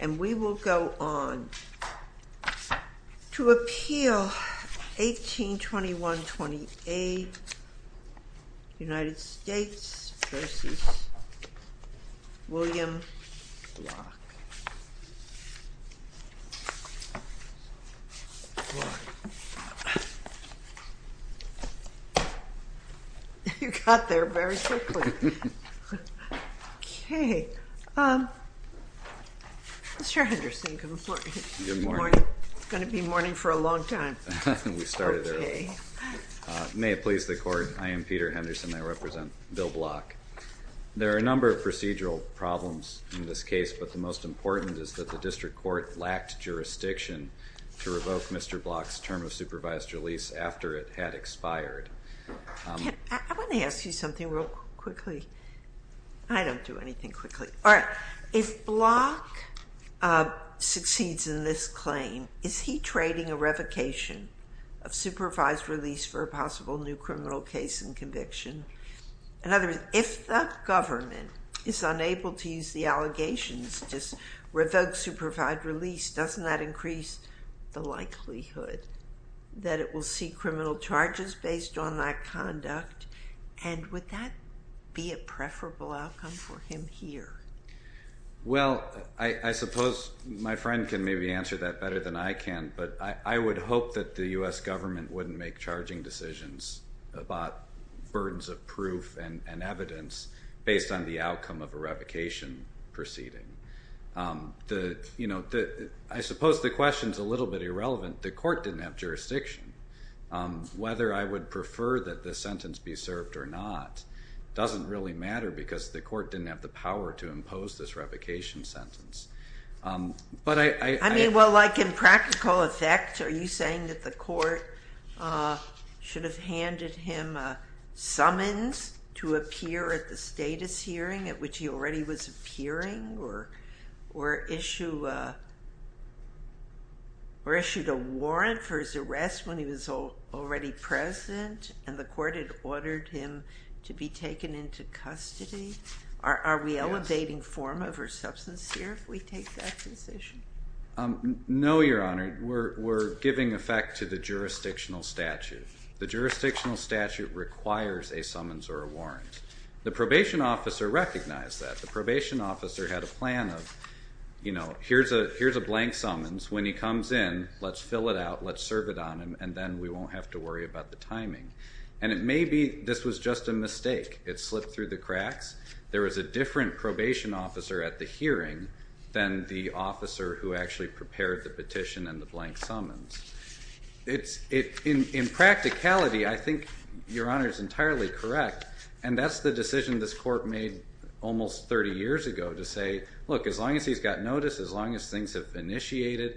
And we will go on to appeal 1821-28, United States v. William Block. You got there very quickly. Okay. Mr. Henderson, good morning. Good morning. It's going to be morning for a long time. We started early. Okay. May it please the Court, I am Peter Henderson. I represent Bill Block. There are a number of procedural problems in this case, but the most important is that the district court lacked jurisdiction to revoke Mr. Block's term of supervised release after it had expired. I want to ask you something real quickly. I don't do anything quickly. All right. If Block succeeds in this claim, is he trading a revocation of supervised release for a possible new criminal case and conviction? In other words, if the government is unable to use the allegations to revoke supervised release, doesn't that increase the likelihood that it will see criminal charges based on that conduct? And would that be a preferable outcome for him here? Well, I suppose my friend can maybe answer that better than I can, but I would hope that the U.S. government wouldn't make charging decisions about burdens of proof and evidence based on the outcome of a revocation proceeding. I suppose the question is a little bit irrelevant. The court didn't have jurisdiction. Whether I would prefer that this sentence be served or not doesn't really matter because the court didn't have the power to impose this revocation sentence. I mean, well, like in practical effect, are you saying that the court should have handed him a summons to appear at the status hearing at which he already was appearing or issued a warrant for his arrest when he was already present and the court had ordered him to be taken into custody? Are we elevating form over substance here if we take that position? No, Your Honor. We're giving effect to the jurisdictional statute. The jurisdictional statute requires a summons or a warrant. The probation officer recognized that. The probation officer had a plan of, you know, here's a blank summons. When he comes in, let's fill it out, let's serve it on him, and then we won't have to worry about the timing. And it may be this was just a mistake. It slipped through the cracks. There was a different probation officer at the hearing than the officer who actually prepared the petition and the blank summons. In practicality, I think Your Honor is entirely correct, and that's the decision this court made almost 30 years ago to say, look, as long as he's got notice, as long as things have initiated,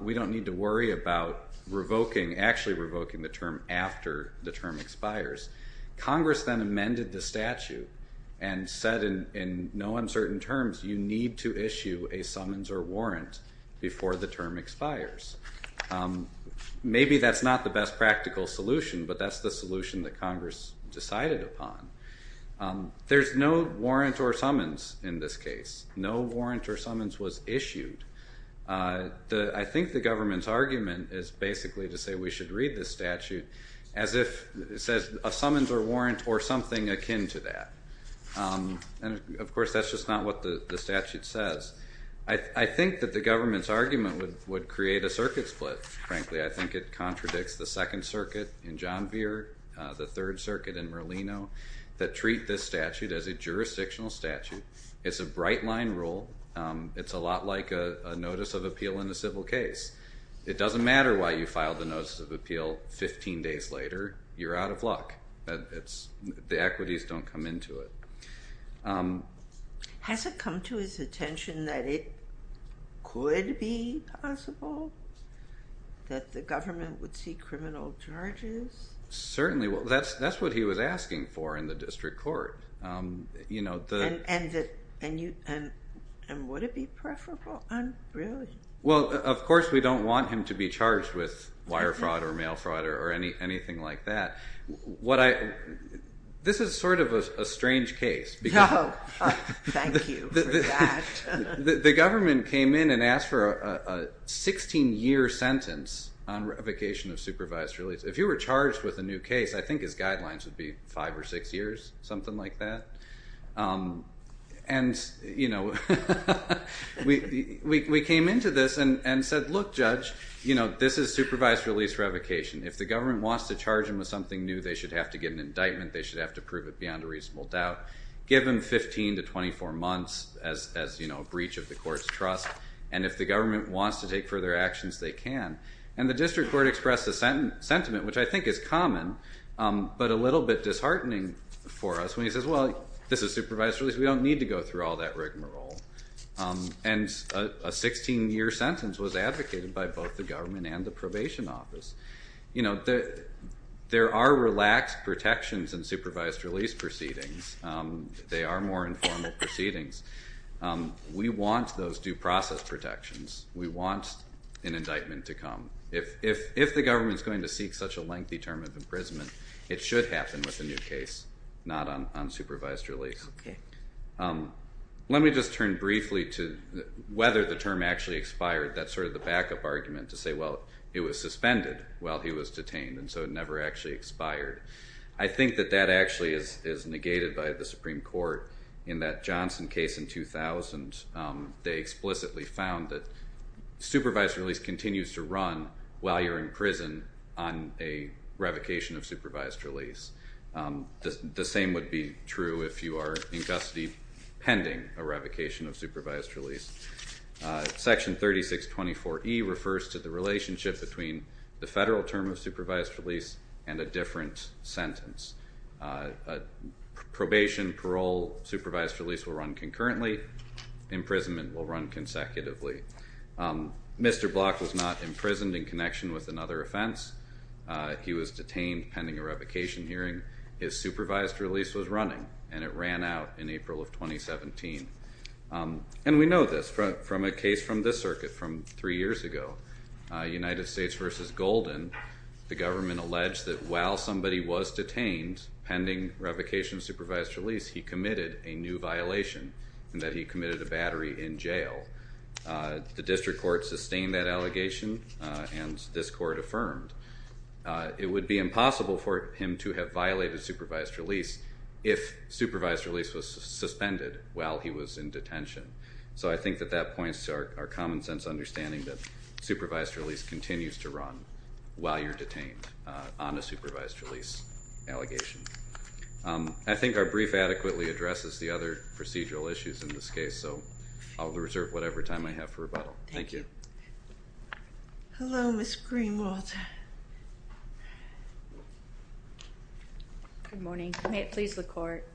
we don't need to worry about revoking, actually revoking the term after the term expires. Congress then amended the statute and said in no uncertain terms you need to issue a summons or warrant before the term expires. Maybe that's not the best practical solution, but that's the solution that Congress decided upon. There's no warrant or summons in this case. No warrant or summons was issued. I think the government's argument is basically to say we should read this statute as if it says a summons or warrant or something akin to that. And, of course, that's just not what the statute says. I think that the government's argument would create a circuit split. Frankly, I think it contradicts the Second Circuit in John Vere, the Third Circuit in Merlino, that treat this statute as a jurisdictional statute. It's a bright line rule. It's a lot like a notice of appeal in a civil case. It doesn't matter why you filed the notice of appeal 15 days later. You're out of luck. The equities don't come into it. Has it come to his attention that it could be possible that the government would see criminal charges? Certainly. That's what he was asking for in the district court. And would it be preferable? Well, of course, we don't want him to be charged with wire fraud or mail fraud or anything like that. This is sort of a strange case. Thank you for that. The government came in and asked for a 16-year sentence on revocation of supervised release. If you were charged with a new case, I think his guidelines would be five or six years, something like that. And we came into this and said, look, Judge, this is supervised release revocation. If the government wants to charge him with something new, they should have to get an indictment. They should have to prove it beyond a reasonable doubt. Give him 15 to 24 months as a breach of the court's trust. And if the government wants to take further actions, they can. And the district court expressed a sentiment, which I think is common but a little bit disheartening for us, when he says, well, this is supervised release. We don't need to go through all that rigmarole. And a 16-year sentence was advocated by both the government and the probation office. You know, there are relaxed protections in supervised release proceedings. They are more informal proceedings. We want those due process protections. We want an indictment to come. If the government is going to seek such a lengthy term of imprisonment, it should happen with a new case, not on supervised release. Let me just turn briefly to whether the term actually expired. That's sort of the backup argument to say, well, it was suspended while he was detained, and so it never actually expired. I think that that actually is negated by the Supreme Court. In that Johnson case in 2000, they explicitly found that supervised release continues to run while you're in prison on a revocation of supervised release. The same would be true if you are in custody pending a revocation of supervised release. Section 3624E refers to the relationship between the federal term of supervised release and a different sentence. Probation, parole, supervised release will run concurrently. Imprisonment will run consecutively. Mr. Block was not imprisoned in connection with another offense. He was detained pending a revocation hearing. His supervised release was running, and it ran out in April of 2017. And we know this from a case from this circuit from three years ago, United States v. Golden. The government alleged that while somebody was detained pending revocation of supervised release, he committed a new violation, and that he committed a battery in jail. The district court sustained that allegation, and this court affirmed. It would be impossible for him to have violated supervised release if supervised release was suspended while he was in detention. So I think that that points to our common sense understanding that supervised release continues to run while you're detained on a supervised release allegation. I think our brief adequately addresses the other procedural issues in this case, so I'll reserve whatever time I have for rebuttal. Thank you. Hello, Ms. Greenwald. Good morning. May it please the court.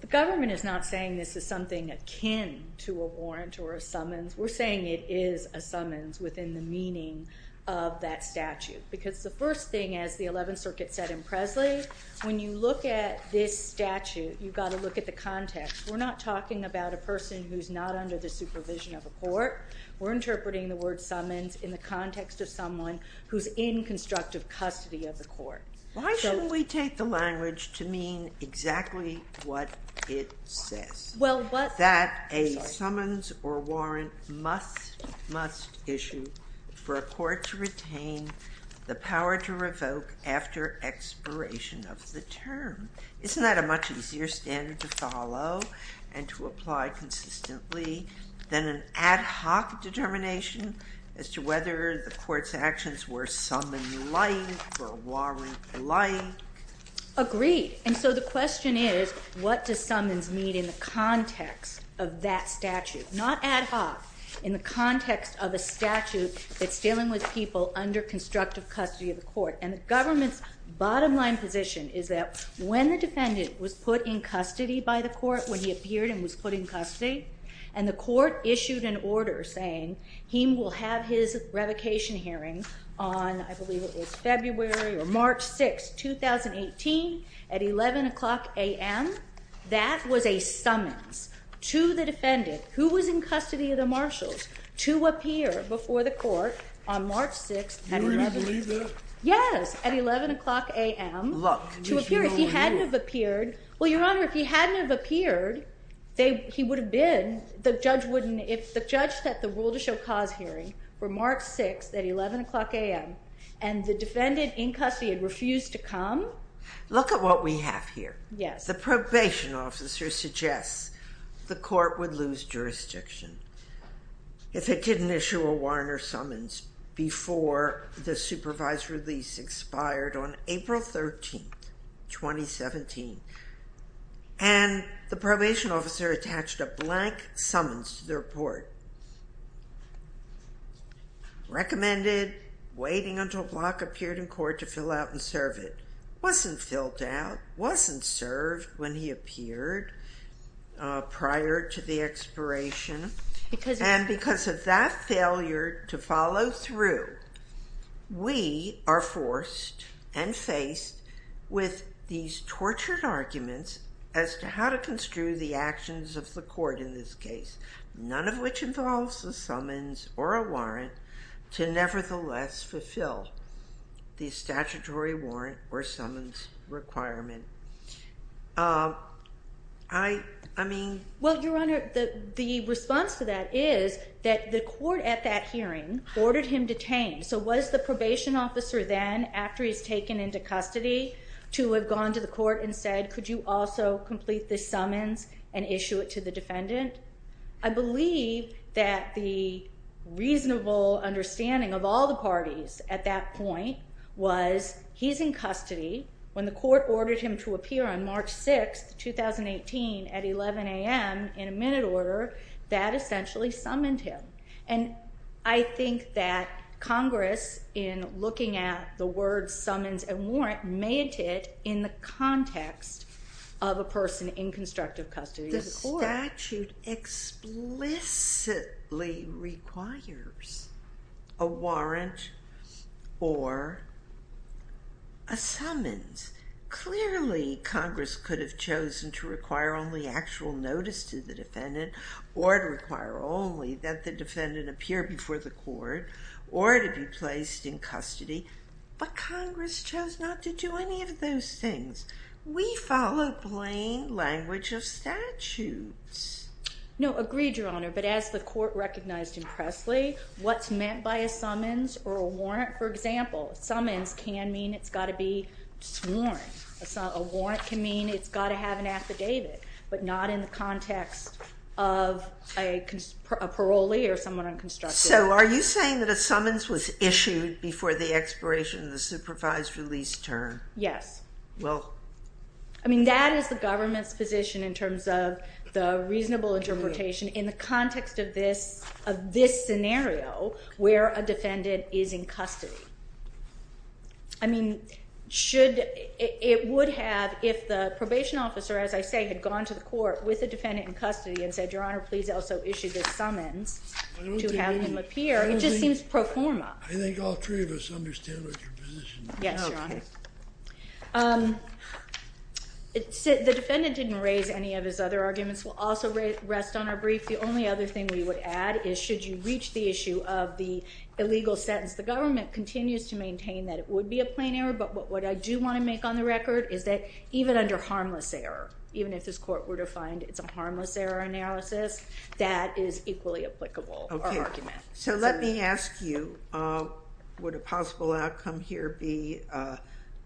The government is not saying this is something akin to a warrant or a summons. We're saying it is a summons within the meaning of that statute. Because the first thing, as the 11th Circuit said in Presley, when you look at this statute, you've got to look at the context. We're not talking about a person who's not under the supervision of a court. We're interpreting the word summons in the context of someone who's in constructive custody of the court. Why shouldn't we take the language to mean exactly what it says? That a summons or warrant must issue for a court to retain the power to revoke after expiration of the term. Isn't that a much easier standard to follow and to apply consistently than an ad hoc determination as to whether the court's actions were summon-like or warrant-like? Agreed. And so the question is, what does summons mean in the context of that statute? Not ad hoc. In the context of a statute that's dealing with people under constructive custody of the court. And the government's bottom line position is that when the defendant was put in custody by the court, when he appeared and was put in custody, and the court issued an order saying he will have his revocation hearing on, I believe it was February or March 6, 2018 at 11 o'clock a.m., that was a summons to the defendant who was in custody of the marshals to appear before the court on March 6. You really believe that? Yes. At 11 o'clock a.m. Look. To appear. If he hadn't have appeared, well, Your Honor, if he hadn't have appeared, he would have been, the judge wouldn't, if the judge set the rule to show cause hearing for March 6 at 11 o'clock a.m. and the defendant in custody had refused to come. Look at what we have here. Yes. The probation officer suggests the court would lose jurisdiction if it didn't issue a warrant or summons before the supervised release expired on April 13, 2017. And the probation officer attached a blank summons to the report, recommended waiting until Block appeared in court to fill out and serve it. It wasn't filled out, wasn't served when he appeared prior to the expiration, and because of that failure to follow through, we are forced and faced with these tortured arguments as to how to construe the actions of the court in this case, none of which involves a summons or a warrant, to nevertheless fulfill the statutory warrant or summons requirement. I mean... Well, Your Honor, the response to that is that the court at that hearing ordered him detained. So was the probation officer then, after he was taken into custody, to have gone to the court and said, could you also complete this summons and issue it to the defendant? I believe that the reasonable understanding of all the parties at that point was he's in custody. When the court ordered him to appear on March 6, 2018 at 11 a.m. in a minute order, that essentially summoned him. And I think that Congress, in looking at the word summons and warrant, made it in the context of a person in constructive custody of the court. The statute explicitly requires a warrant or a summons. Clearly, Congress could have chosen to require only actual notice to the defendant or to require only that the defendant appear before the court or to be placed in custody. But Congress chose not to do any of those things. We follow plain language of statutes. No, agreed, Your Honor. But as the court recognized impressly, what's meant by a summons or a warrant, for example, a summons can mean it's got to be sworn. A warrant can mean it's got to have an affidavit, but not in the context of a parolee or someone in constructive custody. So are you saying that a summons was issued before the expiration of the supervised release term? Yes. Well. I mean, that is the government's position in terms of the reasonable interpretation in the context of this scenario where a defendant is in custody. I mean, it would have, if the probation officer, as I say, had gone to the court with a defendant in custody and said, Your Honor, please also issue this summons to have him appear, it just seems pro forma. I think all three of us understand what your position is. Yes, Your Honor. The defendant didn't raise any of his other arguments. We'll also rest on our brief. The only other thing we would add is should you reach the issue of the illegal sentence, the government continues to maintain that it would be a plain error. But what I do want to make on the record is that even under harmless error, even if this court were to find it's a harmless error analysis, that is equally applicable. So let me ask you, would a possible outcome here be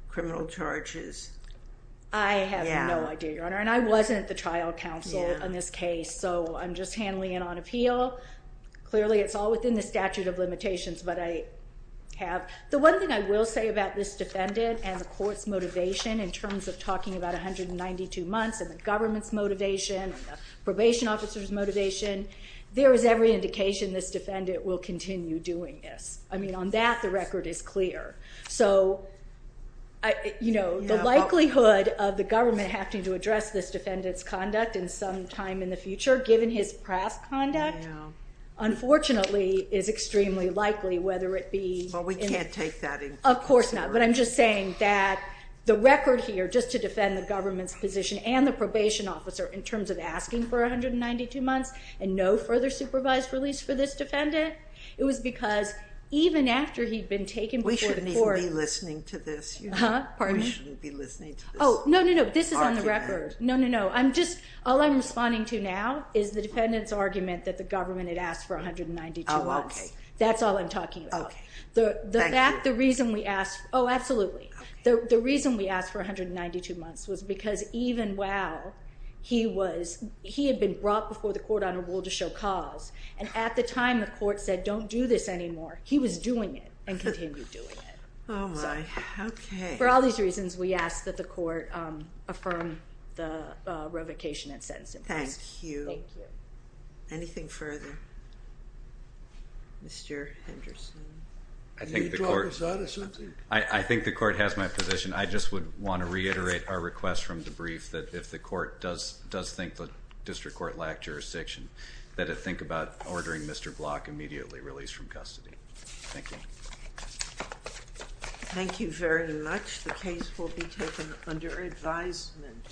criminal charges? I have no idea, Your Honor. And I wasn't the trial counsel on this case, so I'm just handling it on appeal. Clearly, it's all within the statute of limitations, but I have. The one thing I will say about this defendant and the court's motivation in terms of talking about 192 months and the government's motivation and the probation officer's motivation, there is every indication this defendant will continue doing this. I mean, on that, the record is clear. So, you know, the likelihood of the government having to address this defendant's conduct in some time in the future, given his past conduct, unfortunately is extremely likely, whether it be... Well, we can't take that into consideration. Of course not, but I'm just saying that the record here, just to defend the government's position and the probation officer in terms of asking for 192 months and no further supervised release for this defendant, it was because even after he'd been taken before the court... We shouldn't even be listening to this. Pardon me? We shouldn't be listening to this argument. Oh, no, no, no, this is on the record. No, no, no, I'm just... All I'm responding to now is the defendant's argument that the government had asked for 192 months. Oh, okay. That's all I'm talking about. Okay. Thank you. Oh, absolutely. Okay. But the reason we asked for 192 months was because even while he had been brought before the court on a rule to show cause, and at the time the court said, don't do this anymore, he was doing it and continued doing it. Oh, my. Okay. For all these reasons, we ask that the court affirm the revocation and sentence in place. Thank you. Thank you. Anything further? Mr. Henderson? I think the court... Did you drop us out or something? I think the court has my position. I just would want to reiterate our request from the brief that if the court does think the district court lacked jurisdiction, that it think about ordering Mr. Block immediately released from custody. Thank you. Thank you very much. The case will be taken under advisement.